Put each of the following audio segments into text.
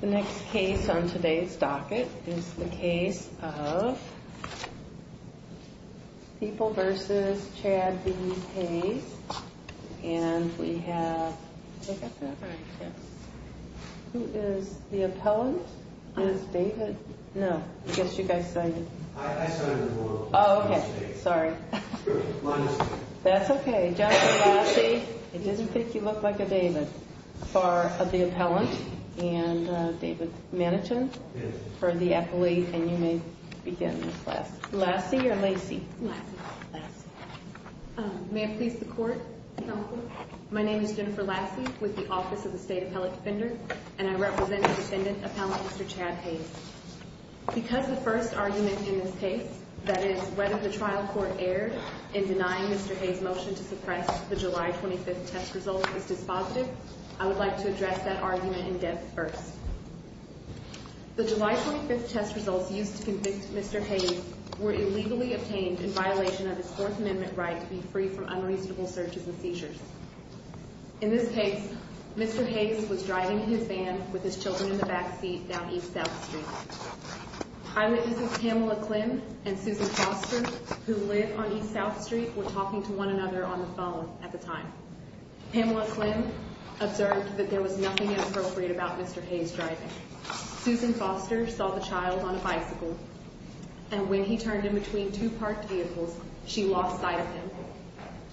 The next case on today's docket is the case of People v. Chad B. Hayes And we have, did I get that right? Yes. Who is the appellant? Is David? No. I guess you guys signed it. I signed it as well. Oh, okay. Sorry. My mistake. That's okay. Okay, Justice Lassie, it doesn't take you look like a David for the appellant. And David Mannington for the appellate. And you may begin the class. Lassie or Lacey? Lassie. May I please the court, counsel? My name is Jennifer Lassie with the Office of the State Appellate Defender, and I represent the descendant appellant, Mr. Chad Hayes. Because the first argument in this case, that is whether the trial court erred in denying Mr. Hayes' motion to suppress the July 25th test results is dispositive, I would like to address that argument in depth first. The July 25th test results used to convict Mr. Hayes were illegally obtained in violation of his Fourth Amendment right to be free from unreasonable searches and seizures. In this case, Mr. Hayes was driving his van with his children in the backseat down East South Street. Eyewitnesses Pamela Klim and Susan Foster, who live on East South Street, were talking to one another on the phone at the time. Pamela Klim observed that there was nothing inappropriate about Mr. Hayes' driving. Susan Foster saw the child on a bicycle, and when he turned in between two parked vehicles, she lost sight of him.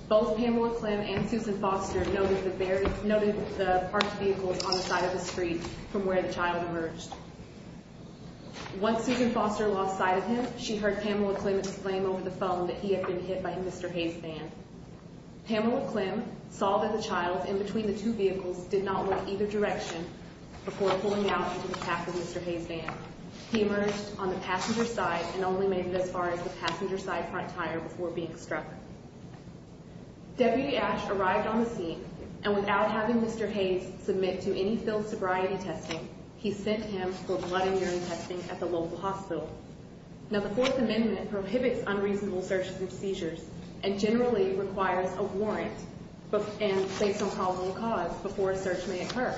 Both Pamela Klim and Susan Foster noted the parked vehicles on the side of the street from where the child emerged. Once Susan Foster lost sight of him, she heard Pamela Klim exclaim over the phone that he had been hit by Mr. Hayes' van. Pamela Klim saw that the child in between the two vehicles did not move either direction before pulling out into the path of Mr. Hayes' van. He emerged on the passenger side and only made it as far as the passenger side front tire before being struck. Deputy Ash arrived on the scene, and without having Mr. Hayes submit to any filled sobriety testing, he sent him for blood and urine testing at the local hospital. Now, the Fourth Amendment prohibits unreasonable searches and seizures, and generally requires a warrant based on probable cause before a search may occur.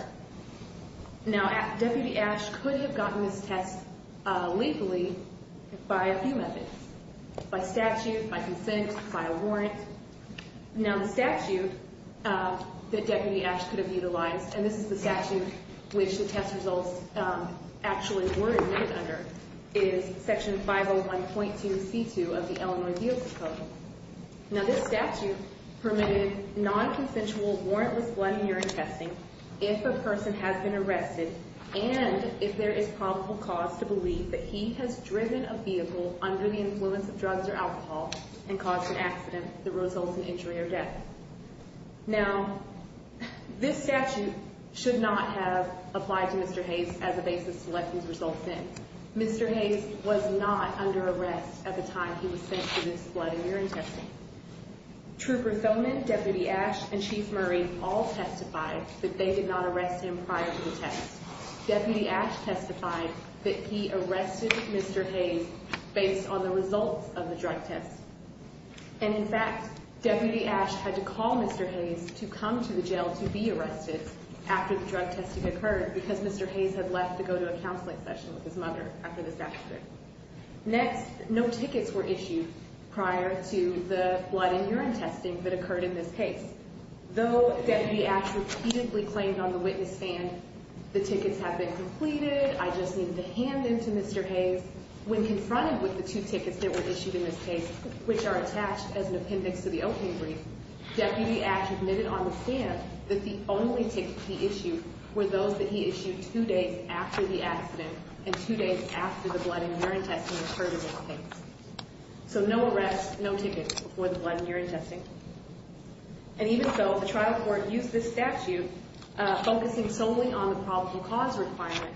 Now, Deputy Ash could have gotten this test legally by a few methods, by statute, by consent, by a warrant. Now, the statute that Deputy Ash could have utilized, and this is the statute which the test results actually were admitted under, is Section 501.2c2 of the Illinois Vehicle Code. Now, this statute permitted non-consensual, warrantless blood and urine testing if a person has been arrested and if there is probable cause to believe that he has driven a vehicle under the influence of drugs or alcohol and caused an accident that results in injury or death. Now, this statute should not have applied to Mr. Hayes as a basis to let these results in. Mr. Hayes was not under arrest at the time he was sent for this blood and urine testing. Trooper Thoman, Deputy Ash, and Chief Murray all testified that they did not arrest him prior to the test. Deputy Ash testified that he arrested Mr. Hayes based on the results of the drug test. And, in fact, Deputy Ash had to call Mr. Hayes to come to the jail to be arrested after the drug testing occurred because Mr. Hayes had left to go to a counseling session with his mother after the statute. Next, no tickets were issued prior to the blood and urine testing that occurred in this case. Though Deputy Ash repeatedly claimed on the witness stand, the tickets have been completed, I just need to hand them to Mr. Hayes, when confronted with the two tickets that were issued in this case, which are attached as an appendix to the opening brief, Deputy Ash admitted on the stand that the only tickets he issued were those that he issued two days after the accident and two days after the blood and urine testing occurred in this case. So, no arrests, no tickets before the blood and urine testing. And even so, the trial court used this statute focusing solely on the probable cause requirement.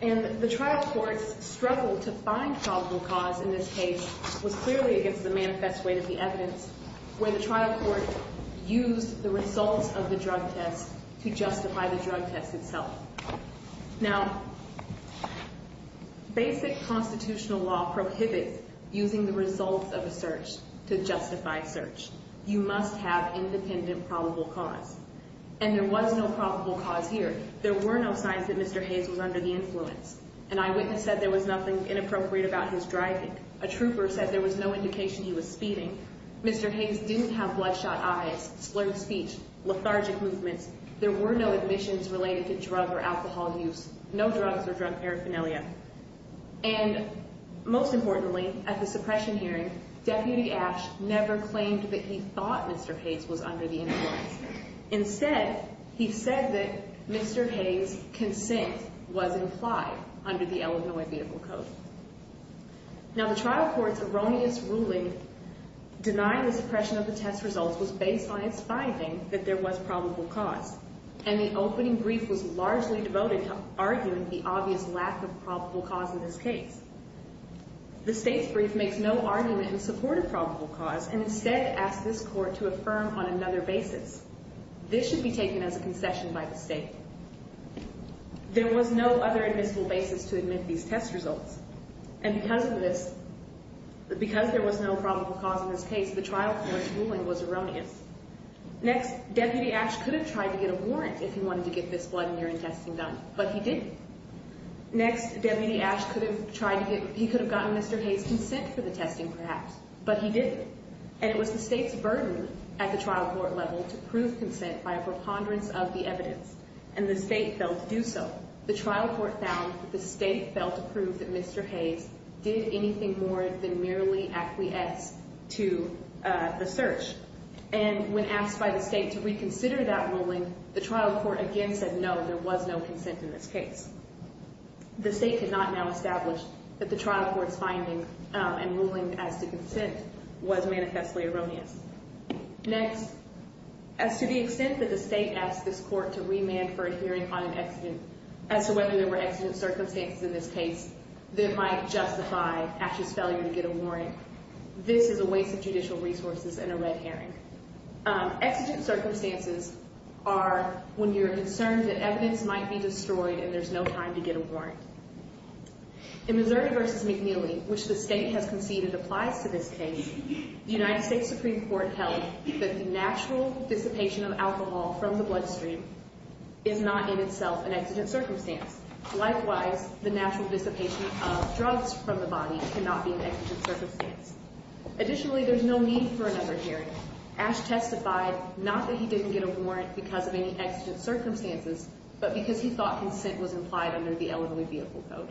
And the trial court's struggle to find probable cause in this case was clearly against the manifest way to the evidence where the trial court used the results of the drug test to justify the drug test itself. Now, basic constitutional law prohibits using the results of a search to justify search. You must have independent probable cause. And there was no probable cause here. There were no signs that Mr. Hayes was under the influence. An eyewitness said there was nothing inappropriate about his driving. A trooper said there was no indication he was speeding. Mr. Hayes didn't have bloodshot eyes, slurred speech, lethargic movements. There were no admissions related to drug or alcohol use. No drugs or drug paraphernalia. And most importantly, at the suppression hearing, Deputy Ash never claimed that he thought Mr. Hayes was under the influence. Instead, he said that Mr. Hayes' consent was implied under the Illinois Vehicle Code. Now, the trial court's erroneous ruling denying the suppression of the test results was based on its finding that there was probable cause. And the opening brief was largely devoted to arguing the obvious lack of probable cause in this case. The State's brief makes no argument in support of probable cause and instead asks this Court to affirm on another basis. This should be taken as a concession by the State. There was no other admissible basis to admit these test results. And because of this, because there was no probable cause in this case, the trial court's ruling was erroneous. Next, Deputy Ash could have tried to get a warrant if he wanted to get this blood and urine testing done, but he didn't. Next, Deputy Ash could have tried to get, he could have gotten Mr. Hayes' consent for the testing, perhaps, but he didn't. And it was the State's burden at the trial court level to prove consent by a preponderance of the evidence. And the State failed to do so. The trial court found that the State failed to prove that Mr. Hayes did anything more than merely acquiesce to the search. And when asked by the State to reconsider that ruling, the trial court again said no, there was no consent in this case. The State could not now establish that the trial court's finding and ruling as to consent was manifestly erroneous. Next, as to the extent that the State asked this court to remand for a hearing on an accident, as to whether there were accident circumstances in this case that might justify Ash's failure to get a warrant, this is a waste of judicial resources and a red herring. Exigent circumstances are when you're concerned that evidence might be destroyed and there's no time to get a warrant. In Missouri v. McNeely, which the State has conceded applies to this case, the United States Supreme Court held that the natural dissipation of alcohol from the bloodstream is not in itself an exigent circumstance. Likewise, the natural dissipation of drugs from the body cannot be an exigent circumstance. Additionally, there's no need for another hearing. Ash testified not that he didn't get a warrant because of any exigent circumstances, but because he thought consent was implied under the Elementary Vehicle Code.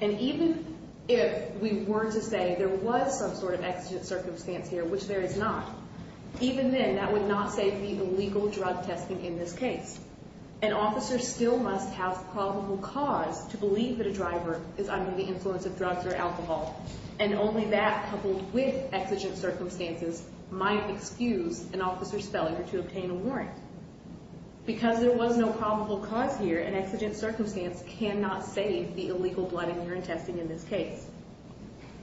And even if we were to say there was some sort of exigent circumstance here, which there is not, even then that would not say the illegal drug testing in this case. An officer still must have probable cause to believe that a driver is under the influence of drugs or alcohol, and only that coupled with exigent circumstances might excuse an officer's failure to obtain a warrant. Because there was no probable cause here, an exigent circumstance cannot save the illegal blood and urine testing in this case.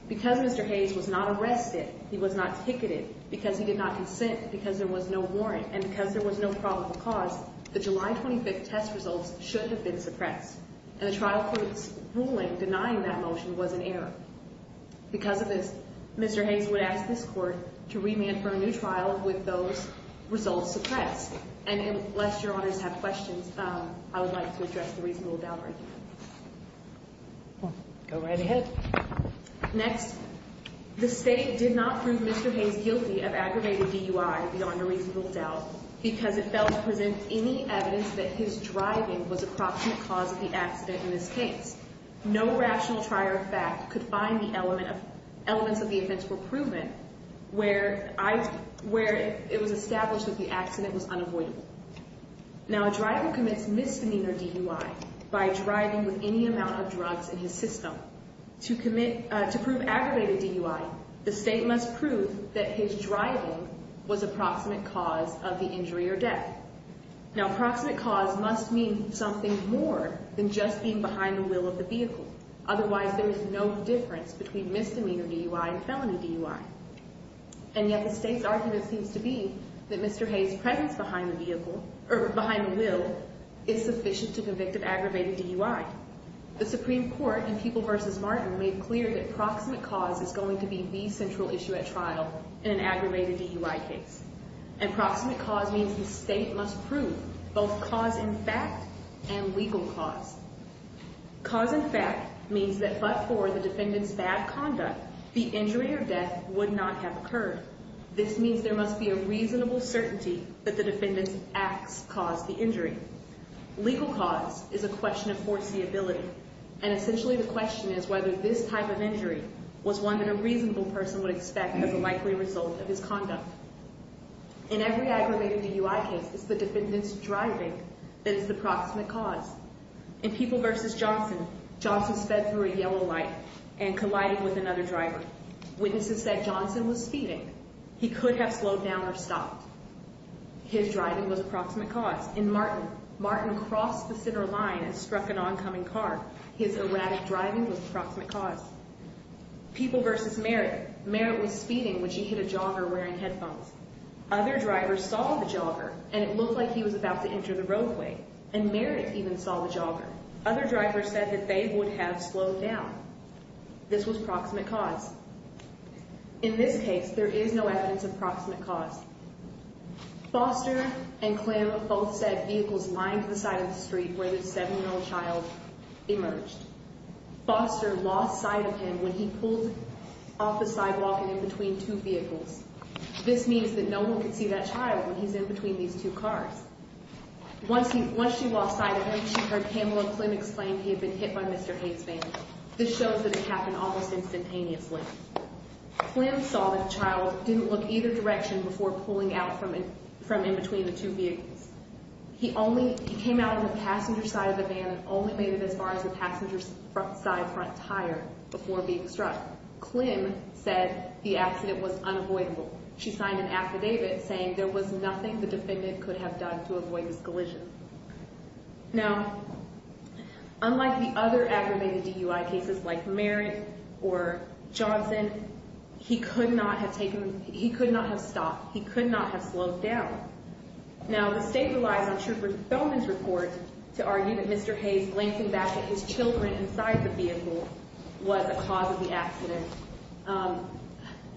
Because Mr. Hayes was not arrested, he was not ticketed, because he did not consent, because there was no warrant, and because there was no probable cause, the July 25th test results should have been suppressed. And the trial court's ruling denying that motion was an error. Because of this, Mr. Hayes would ask this court to remand for a new trial with those results suppressed. And unless your honors have questions, I would like to address the reasonable doubt argument. Go right ahead. Next. The State did not prove Mr. Hayes guilty of aggravated DUI beyond a reasonable doubt because it failed to present any evidence that his driving was a proximate cause of the accident in this case. No rational trier of fact could find the elements of the offense were proven where it was established that the accident was unavoidable. Now, a driver commits misdemeanor DUI by driving with any amount of drugs in his system. To prove aggravated DUI, the State must prove that his driving was a proximate cause of the injury or death. Now, proximate cause must mean something more than just being behind the wheel of the vehicle. Otherwise, there is no difference between misdemeanor DUI and felony DUI. And yet the State's argument seems to be that Mr. Hayes' presence behind the wheel is sufficient to convict of aggravated DUI. The Supreme Court in People v. Martin made clear that proximate cause is going to be the central issue at trial in an aggravated DUI case. And proximate cause means the State must prove both cause in fact and legal cause. Cause in fact means that but for the defendant's bad conduct, the injury or death would not have occurred. This means there must be a reasonable certainty that the defendant's acts caused the injury. Legal cause is a question of foreseeability. And essentially the question is whether this type of injury was one that a reasonable person would expect as a likely result of his conduct. In every aggravated DUI case, it's the defendant's driving that is the proximate cause. In People v. Johnson, Johnson sped through a yellow light and collided with another driver. Witnesses said Johnson was speeding. He could have slowed down or stopped. His driving was proximate cause. In Martin, Martin crossed the center line and struck an oncoming car. His erratic driving was proximate cause. People v. Merritt, Merritt was speeding when she hit a jogger wearing headphones. Other drivers saw the jogger and it looked like he was about to enter the roadway. And Merritt even saw the jogger. Other drivers said that they would have slowed down. This was proximate cause. In this case, there is no evidence of proximate cause. Foster and Klim both said vehicles lined the side of the street where the 7-year-old child emerged. Foster lost sight of him when he pulled off the sidewalk and in between two vehicles. This means that no one could see that child when he's in between these two cars. Once she lost sight of him, she heard Pamela and Klim explain he had been hit by Mr. Hayes' van. This shows that it happened almost instantaneously. Klim saw that the child didn't look either direction before pulling out from in between the two vehicles. He came out on the passenger side of the van and only made it as far as the passenger's side front tire before being struck. Klim said the accident was unavoidable. She signed an affidavit saying there was nothing the defendant could have done to avoid this collision. Now, unlike the other aggravated DUI cases like Merritt or Johnson, he could not have stopped. He could not have slowed down. Now, the state relies on Trooper Thoman's report to argue that Mr. Hayes glancing back at his children inside the vehicle was a cause of the accident.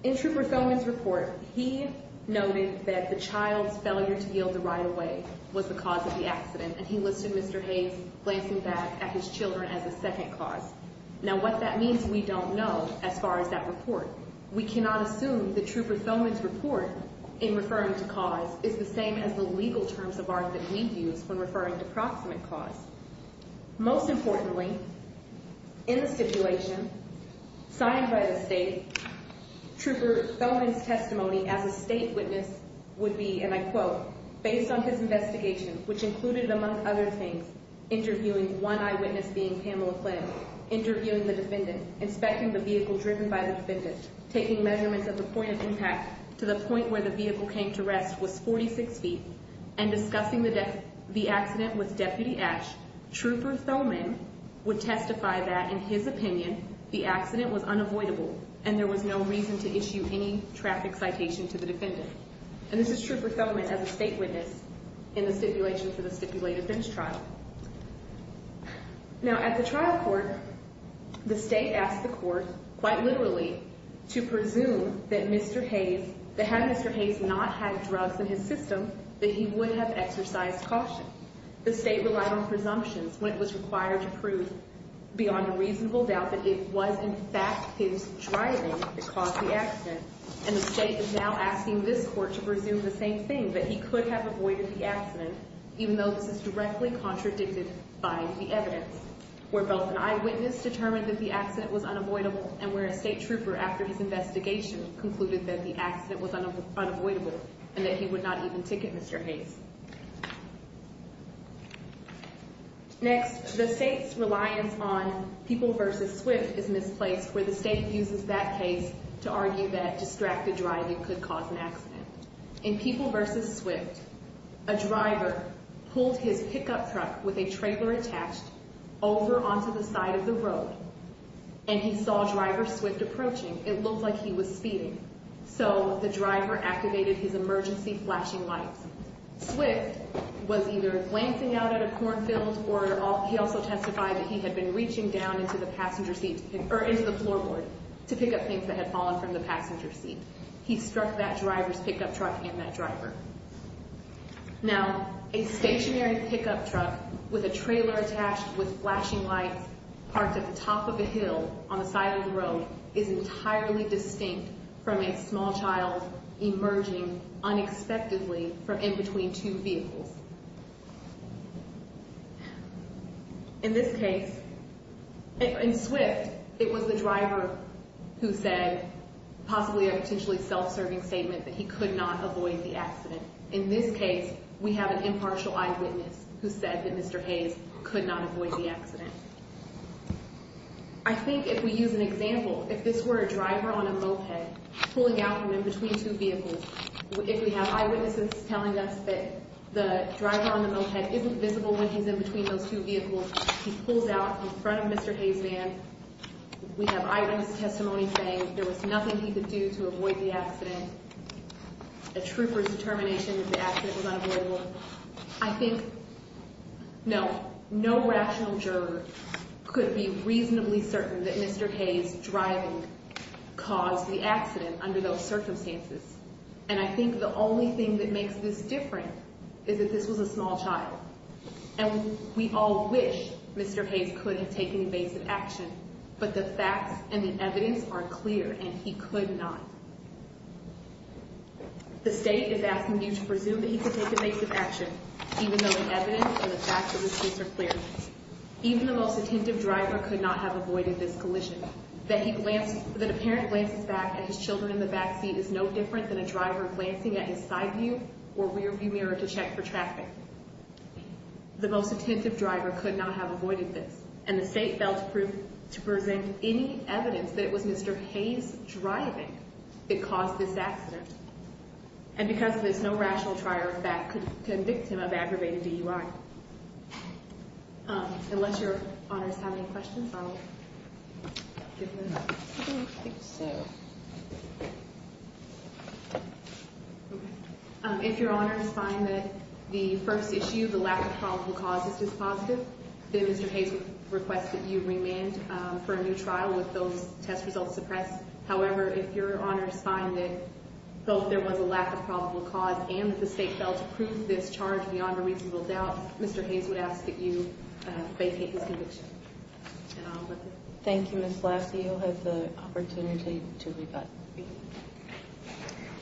In Trooper Thoman's report, he noted that the child's failure to yield the right of way was the cause of the accident, and he listed Mr. Hayes glancing back at his children as a second cause. Now, what that means we don't know as far as that report. We cannot assume that Trooper Thoman's report in referring to cause is the same as the legal terms of art that we use when referring to proximate cause. Most importantly, in the stipulation signed by the state, Trooper Thoman's testimony as a state witness would be, and I quote, based on his investigation, which included, among other things, interviewing one eyewitness being Pamela Klim, interviewing the defendant, inspecting the vehicle driven by the defendant, taking measurements of the point of impact to the point where the vehicle came to rest was 46 feet, and discussing the accident with Deputy Esch, Trooper Thoman would testify that, in his opinion, the accident was unavoidable and there was no reason to issue any traffic citation to the defendant. And this is Trooper Thoman as a state witness in the stipulation for the stipulated bench trial. Now, at the trial court, the state asked the court, quite literally, to presume that Mr. Hayes, that had Mr. Hayes not had drugs in his system, that he would have exercised caution. The state relied on presumptions when it was required to prove, beyond a reasonable doubt, that it was, in fact, his driving that caused the accident. And the state is now asking this court to presume the same thing, that he could have avoided the accident, even though this is directly contradicted by the evidence, where both an eyewitness determined that the accident was unavoidable and where a state trooper, after his investigation, concluded that the accident was unavoidable and that he would not even ticket Mr. Hayes. Next, the state's reliance on People v. Swift is misplaced where the state uses that case to argue that distracted driving could cause an accident. In People v. Swift, a driver pulled his pickup truck with a trailer attached over onto the side of the road and he saw Driver Swift approaching. It looked like he was speeding. So, the driver activated his emergency flashing lights. Swift was either glancing out at a cornfield or he also testified that he had been reaching down into the floorboard to pick up things that had fallen from the passenger seat. He struck that driver's pickup truck and that driver. Now, a stationary pickup truck with a trailer attached with flashing lights parked at the top of a hill on the side of the road is entirely distinct from a small child emerging unexpectedly from in between two vehicles. In this case, in Swift, it was the driver who said possibly a potentially self-serving statement that he could not avoid the accident. In this case, we have an impartial eyewitness who said that Mr. Hayes could not avoid the accident. I think if we use an example, if this were a driver on a moped pulling out from in between two vehicles, if we have eyewitnesses telling us that the driver on the moped isn't visible when he's in between those two vehicles, he pulls out in front of Mr. Hayes' van, we have eyewitness testimony saying there was nothing he could do to avoid the accident, a trooper's determination that the accident was unavoidable. I think, no, no rational juror could be reasonably certain that Mr. Hayes' driving caused the accident under those circumstances. And I think the only thing that makes this different is that this was a small child. And we all wish Mr. Hayes could have taken evasive action, but the facts and the evidence are clear, and he could not. The state is asking you to presume that he could take evasive action, even though the evidence and the facts of this case are clear. Even the most attentive driver could not have avoided this collision. That a parent glances back at his children in the back seat is no different than a driver glancing at his side view or rear view mirror to check for traffic. The most attentive driver could not have avoided this, and the state failed to present any evidence that it was Mr. Hayes' driving that caused this accident. And because of this, no rational trier of fact could convict him of aggravated DUI. Unless your honors have any questions, I'll give the floor. I think so. If your honors find that the first issue, the lack of probable cause, is dispositive, then Mr. Hayes would request that you remand for a new trial with those test results suppressed. However, if your honors find that both there was a lack of probable cause and that the state failed to prove this charge beyond a reasonable doubt, Mr. Hayes would ask that you vacate this conviction. Thank you, Ms. Blasio. I have the opportunity to rebut.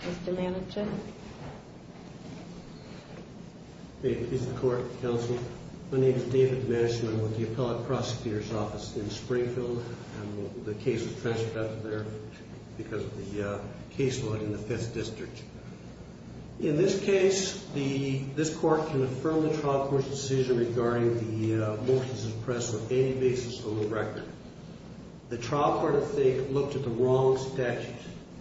Mr. Manachin. May it please the court, counsel. My name is David Manachin. I'm with the Appellate Prosecutor's Office in Springfield. The case was transferred out of there because of the case law in the 5th District. In this case, this court can affirm the trial court's decision regarding the motions suppressed on any basis on the record. The trial court, I think, looked at the wrong statutes.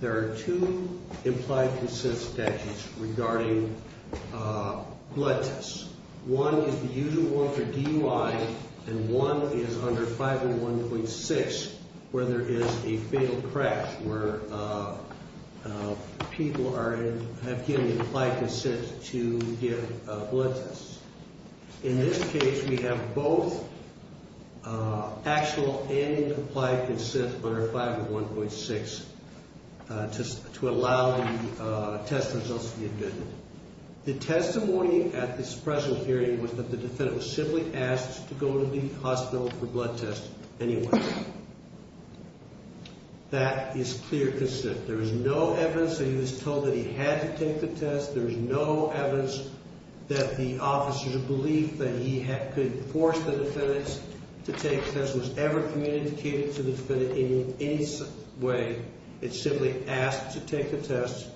There are two implied consent statutes regarding blood tests. One is the usual one for DUI and one is under 501.6 where there is a fatal crash where people have given implied consent to give blood tests. In this case, we have both actual and implied consent under 501.6 to allow the test results to be admitted. The testimony at this present hearing was that the defendant was simply asked to go to the hospital for blood tests anyway. That is clear consent. There is no evidence that he was told that he had to take the test. There is no evidence that the officer's belief that he could force the defendant to take the test was ever communicated to the defendant in any way. It simply asked to take the test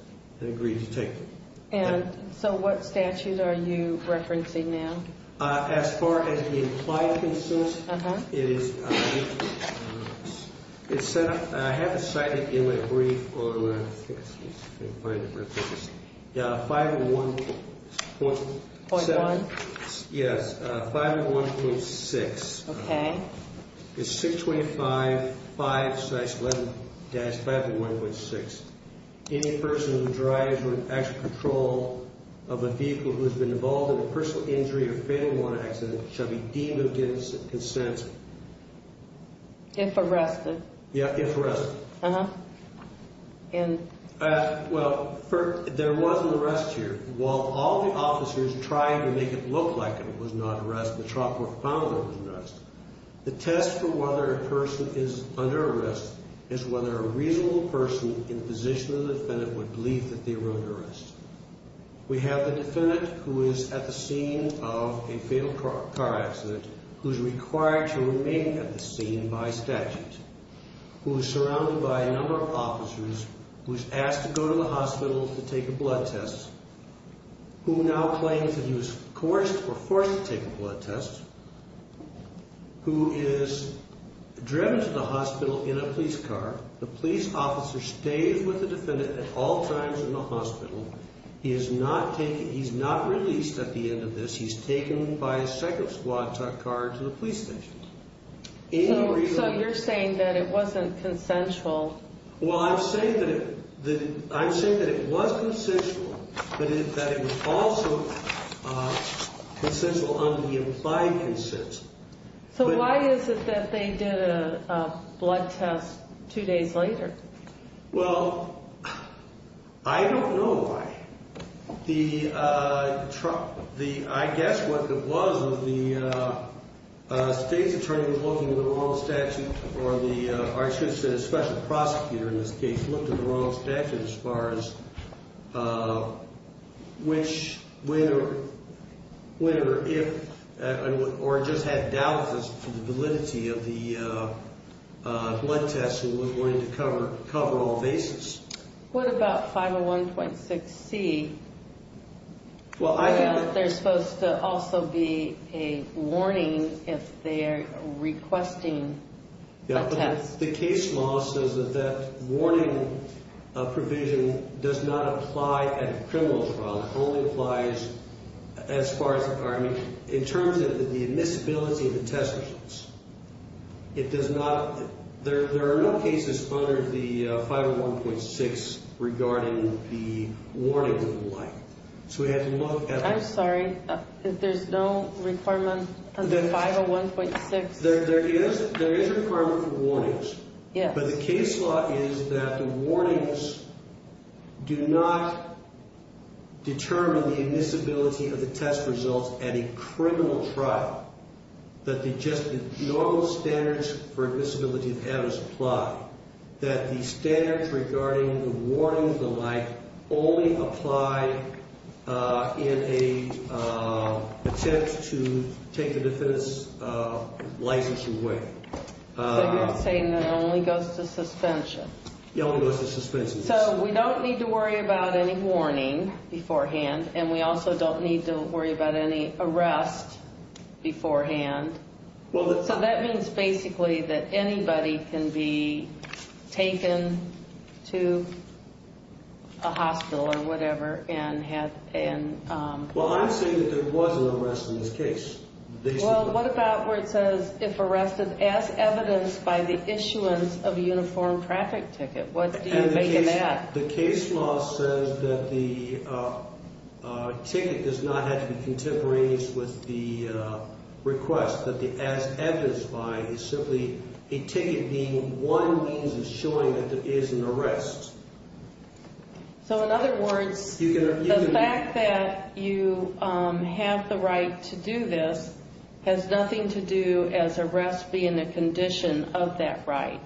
and agreed to take it. And so what statute are you referencing now? As far as the implied consent, it is set up, I have it cited in my brief on 501.6. Okay. It's 625.5-11-501.6. Any person who drives with extra control of a vehicle who has been involved in a personal injury or fatal warrant accident shall be deemed against consent. If arrested. Yeah, if arrested. Uh-huh. Well, there wasn't an arrest here. While all the officers tried to make it look like it was not an arrest, the trial court found that it was an arrest. The test for whether a person is under arrest is whether a reasonable person in the position of the defendant would believe that they were under arrest. We have the defendant who is at the scene of a fatal car accident who is required to remain at the scene by statute, who is surrounded by a number of officers, who is asked to go to the hospital to take a blood test, who now claims that he was coerced or forced to take a blood test, who is driven to the hospital in a police car. The police officer stays with the defendant at all times in the hospital. He is not released at the end of this. He's taken by a second squad car to the police station. So you're saying that it wasn't consensual? Well, I'm saying that it was consensual, but that it was also consensual on the implied consent. So why is it that they did a blood test two days later? Well, I don't know why. I guess what it was was the state's attorney was looking at the wrong statute, or I should say the special prosecutor in this case looked at the wrong statute as far as which, whether or if, or just had doubts as to the validity of the blood test who was going to cover all bases. What about 501.6c? I guess there's supposed to also be a warning if they're requesting a test. The case law says that that warning provision does not apply at a criminal trial. It only applies in terms of the admissibility of the test results. There are no cases under the 501.6 regarding the warning of the like. I'm sorry, there's no requirement under 501.6? There is a requirement for warnings. But the case law is that the warnings do not determine the admissibility of the test results at a criminal trial. That just the normal standards for admissibility of adders apply. That the standards regarding the warning of the like only apply in an attempt to take the defendant's license away. So you're saying that it only goes to suspension? It only goes to suspension. So we don't need to worry about any warning beforehand, and we also don't need to worry about any arrest beforehand. So that means basically that anybody can be taken to a hospital or whatever and have an... Well, I'm saying that there was an arrest in this case. Well, what about where it says, if arrested as evidenced by the issuance of a uniformed traffic ticket? What do you make of that? The case law says that the ticket does not have to be contemporaneous with the request. That the as evidenced by is simply a ticket being one means of showing that there is an arrest. So in other words, the fact that you have the right to do this has nothing to do as arrest being a condition of that right?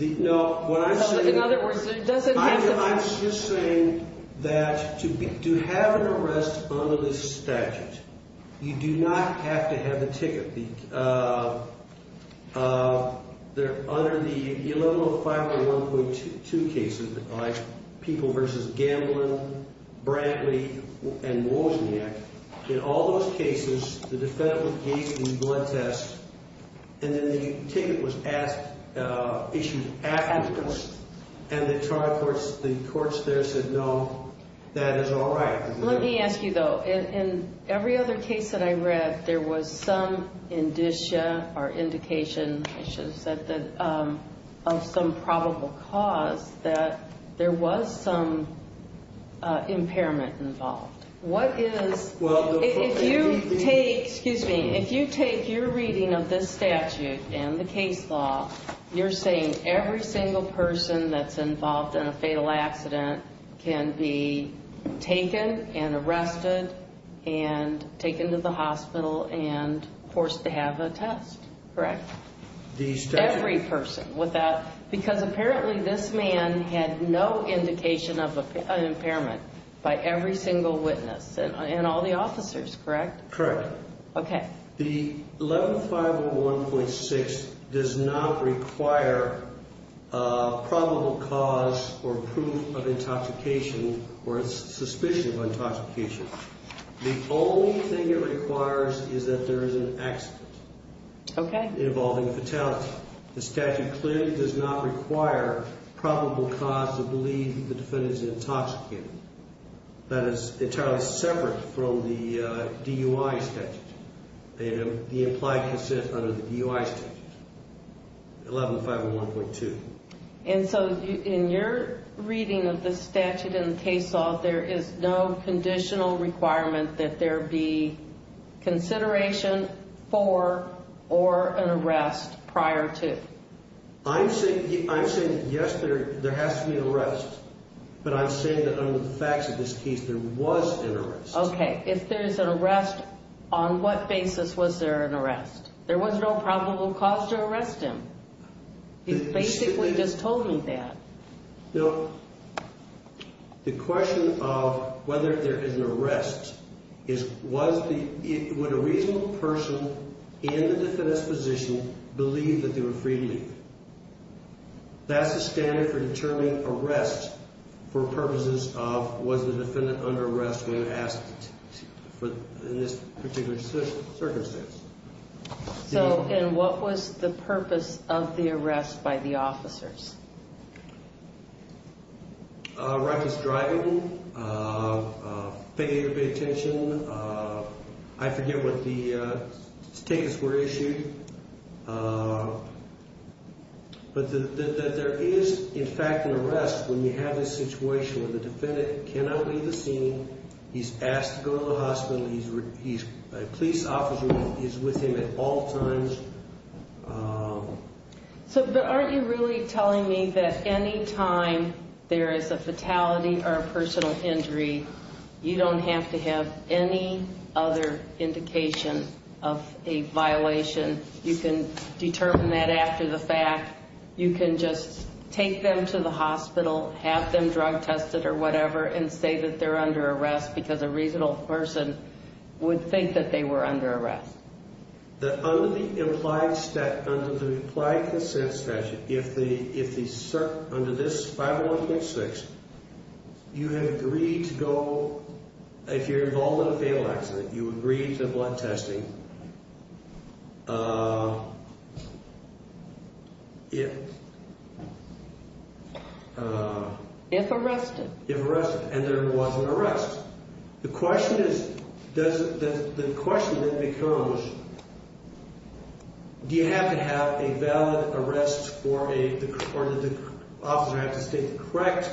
No, what I'm saying... In other words, it doesn't have to... I'm just saying that to have an arrest under this statute, you do not have to have the ticket. Under the 11051.2 cases, like People v. Gamblin, Brantley, and Wozniak, in all those cases, the defendant was gave the blood test, and then the ticket was issued afterwards, and the courts there said, no, that is all right. Let me ask you though, in every other case that I read, there was some indication of some probable cause that there was some impairment involved. If you take your reading of this statute and the case law, you're saying every single person that's involved in a fatal accident can be taken and arrested, and taken to the hospital, and forced to have a test, correct? Every person. Because apparently this man had no indication of an impairment by every single witness, and all the officers, correct? Correct. Okay. The 11501.6 does not require probable cause or proof of intoxication or suspicion of intoxication. The only thing it requires is that there is an accident involving fatality. The statute clearly does not require probable cause to believe the defendant is intoxicated. That is entirely separate from the DUI statute, the implied consent under the DUI statute, 11501.2. And so in your reading of the statute and the case law, there is no conditional requirement that there be consideration for or an arrest prior to? I'm saying, yes, there has to be an arrest, but I'm saying that under the facts of this case, there was an arrest. Okay. If there's an arrest, on what basis was there an arrest? There was no probable cause to arrest him. He basically just told me that. Now, the question of whether there is an arrest is would a reasonable person in the defendant's position believe that they were free to leave? That's the standard for determining arrest for purposes of was the defendant under arrest when asked in this particular circumstance. So, and what was the purpose of the arrest by the officers? Righteous driving, failure to pay attention. I forget what the tickets were issued. But there is, in fact, an arrest when you have a situation where the defendant cannot leave the scene. He's asked to go to the hospital. A police officer is with him at all times. So, but aren't you really telling me that any time there is a fatality or a personal injury, you don't have to have any other indication of a violation? You can determine that after the fact. You can just take them to the hospital, have them drug tested or whatever, and say that they're under arrest because a reasonable person would think that they were under arrest. Under the implied consent statute, under this 501.6, you have agreed to go, if you're involved in a fatal accident, you agreed to blood testing. If arrested. If arrested, and there was an arrest. The question is, the question then becomes, do you have to have a valid arrest or did the officer have to state the correct...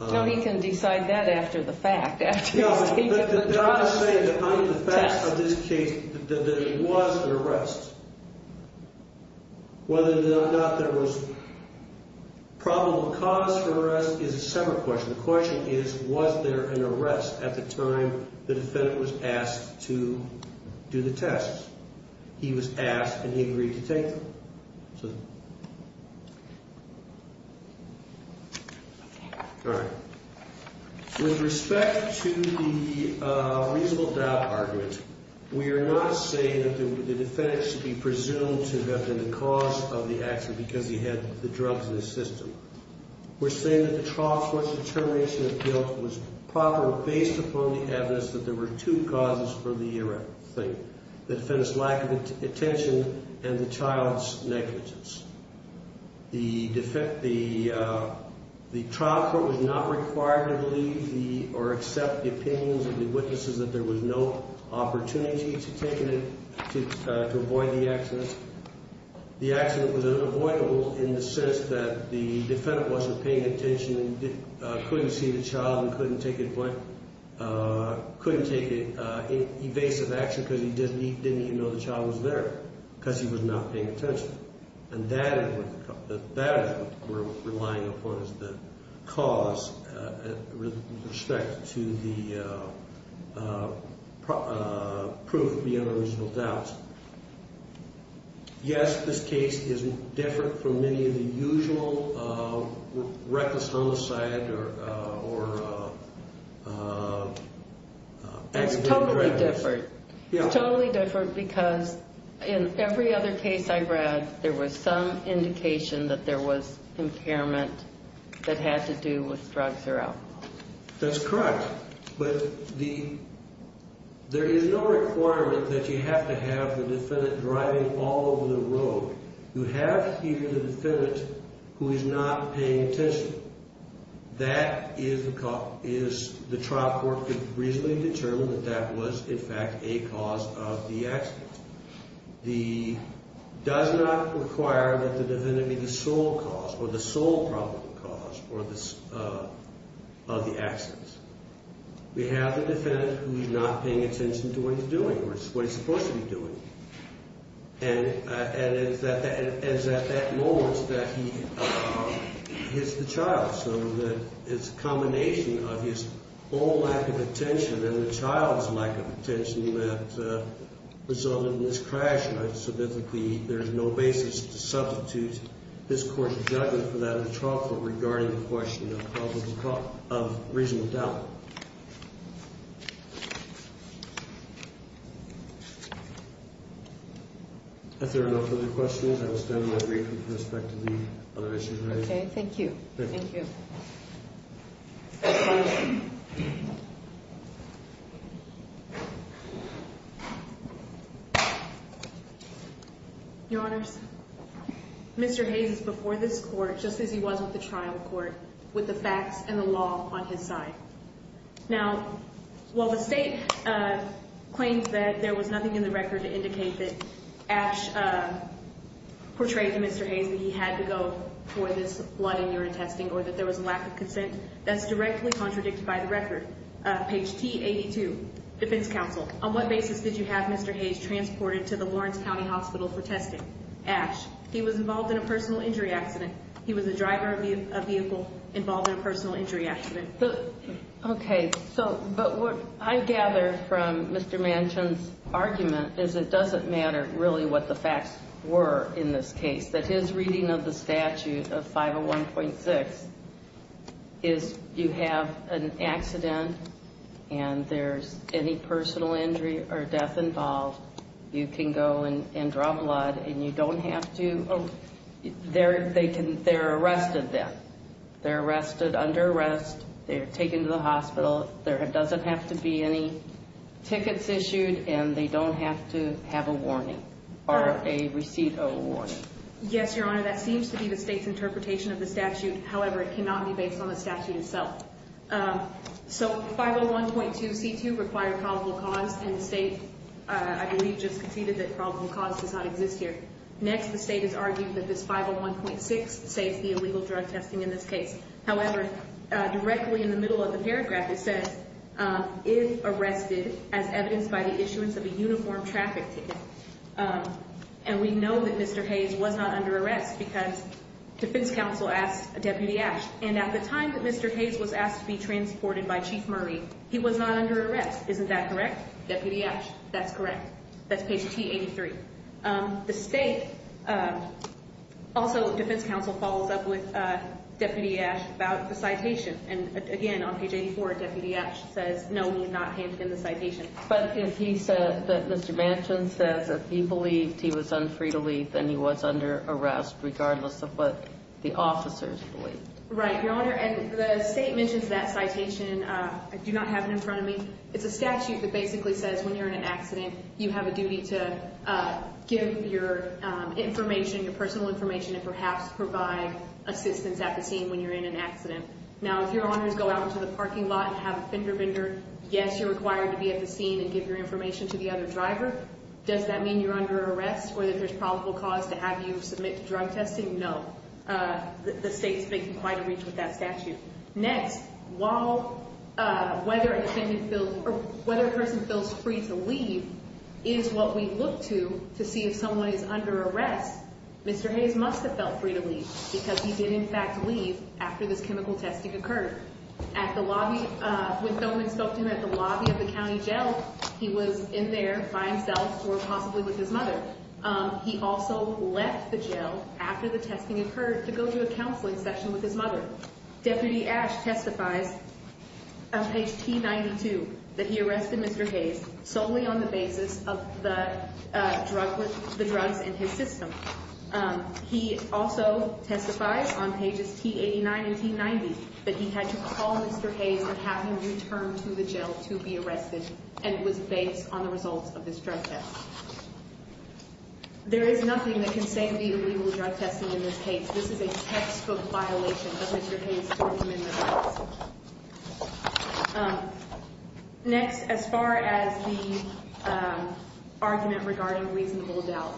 No, he can decide that after the fact, after he's taken the drug test. No, but I'm just saying that under the facts of this case, that there was an arrest. Whether or not there was problem of cause for arrest is a separate question. The question is, was there an arrest at the time the defendant was asked to do the tests? He was asked and he agreed to take them. All right. With respect to the reasonable doubt argument, we are not saying that the defendant should be presumed to have been the cause of the accident because he had the drugs in his system. We're saying that the trial court's determination of guilt was proper based upon the evidence that there were two causes for the arrest. The defendant's lack of attention and the child's negligence. The trial court was not required to believe or accept the opinions of the witnesses that there was no opportunity to avoid the accident. The accident was unavoidable in the sense that the defendant wasn't paying attention and couldn't see the child and couldn't take evasive action because he didn't even know the child was there because he was not paying attention. And that is what we're relying upon as the cause with respect to the proof beyond the reasonable doubt. Yes, this case is different from many of the usual reckless homicide or... It's totally different. It's totally different because in every other case I read, there was some indication that there was impairment that had to do with drugs or alcohol. That's correct, but there is no requirement that you have to have the defendant driving all over the road. You have here the defendant who is not paying attention. That is the trial court could reasonably determine that that was in fact a cause of the accident. It does not require that the defendant be the sole cause or the sole probable cause of the accident. We have the defendant who's not paying attention to what he's doing or what he's supposed to be doing. And it's at that moment that he hits the child. It's a combination of his own lack of attention and the child's lack of attention that resulted in this crash. So there's no basis to substitute this court's judgment for that of the trial court regarding the question of reasonable doubt. If there are no further questions, I will stand by briefly with respect to the other issues raised. Thank you. Your Honors, Mr. Hayes is before this court just as he was with the trial court with the facts and the law on his side. Now, while the state claims that there was nothing in the record to indicate that Ash portrayed to Mr. Hayes that he had to go for this blood and urine testing or that there was a lack of consent, that's directly contradicted by the record. Page T82, Defense Counsel. On what basis did you have Mr. Hayes transported to the Lawrence County Hospital for testing? Ash. He was involved in a personal injury accident. He was a driver of a vehicle involved in a personal injury accident. Okay. So, but what I gather from Mr. Manchin's argument is it doesn't matter really what the facts were in this case. That his reading of the statute of 501.6 is you have an accident and there's any personal injury or death involved. You can go and draw blood and you don't have to, they're arrested then. They're arrested, under arrest, they're taken to the hospital. There doesn't have to be any tickets issued and they don't have to have a warning or a receipt of a warning. Yes, Your Honor. That seems to be the state's interpretation of the statute. However, it cannot be based on the statute itself. So, 501.2C2 required probable cause and the state, I believe, just conceded that probable cause does not exist here. Next, the state has argued that this 501.6 saves the illegal drug testing in this case. However, directly in the middle of the paragraph it says, if arrested as evidenced by the issuance of a uniform traffic ticket. And we know that Mr. Hayes was not under arrest because defense counsel asked Deputy Ash. And at the time that Mr. Hayes was asked to be transported by Chief Murray, he was not under arrest. Isn't that correct? Deputy Ash. That's correct. That's page T83. The state, also defense counsel, follows up with Deputy Ash about the citation. And again, on page 84, Deputy Ash says, no, we did not hand in the citation. But if he said that Mr. Manchin said that he believed he was unfree to leave, then he was under arrest regardless of what the officers believed. Right, Your Honor. And the state mentions that citation. I do not have it in front of me. It's a statute that basically says when you're in an accident, you have a duty to give your information, your personal information, and perhaps provide assistance at the scene when you're in an accident. Now, if Your Honors go out into the parking lot and have a fender bender, yes, you're required to be at the scene and give your information to the other driver. Does that mean you're under arrest or that there's probable cause to have you submit to drug testing? No. The state's making quite a reach with that statute. Next, whether a person feels free to leave is what we look to to see if someone is under arrest. Mr. Hayes must have felt free to leave because he did, in fact, leave after this chemical testing occurred. When Thoman spoke to him at the lobby of the county jail, he was in there by himself or possibly with his mother. He also left the jail after the testing occurred to go to a counseling session with his mother. Deputy Ash testifies on page T92 that he arrested Mr. Hayes solely on the basis of the drugs in his system. He also testifies on pages T89 and T90 that he had to call Mr. Hayes and have him returned to the jail to be arrested and was based on the results of this drug test. There is nothing that can say to be illegal drug testing in this case. This is a textbook violation of Mr. Hayes' tortument of rights. Next, as far as the argument regarding reasonable doubt,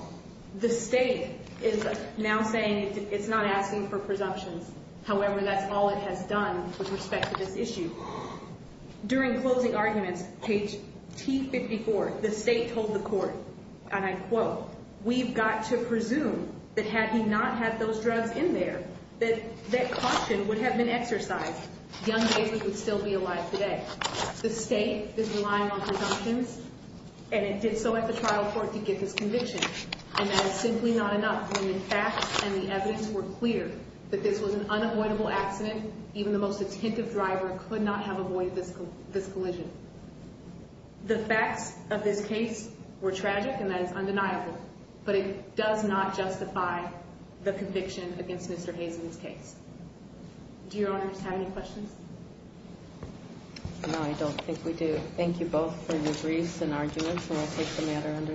the state is now saying it's not asking for presumptions. However, that's all it has done with respect to this issue. During closing arguments, page T54, the state told the court, and I quote, we've got to presume that had he not had those drugs in there, that that caution would have been exercised. Young David would still be alive today. The state is relying on presumptions, and it did so at the trial court to get this conviction. And that is simply not enough. When the facts and the evidence were clear that this was an unavoidable accident, even the most attentive driver could not have avoided this collision. The facts of this case were tragic, and that is undeniable, but it does not justify the conviction against Mr. Hayes in this case. Do your honors have any questions? No, I don't think we do. Thank you both for your briefs and arguments, and I'll take the matter under advisement. Thank you.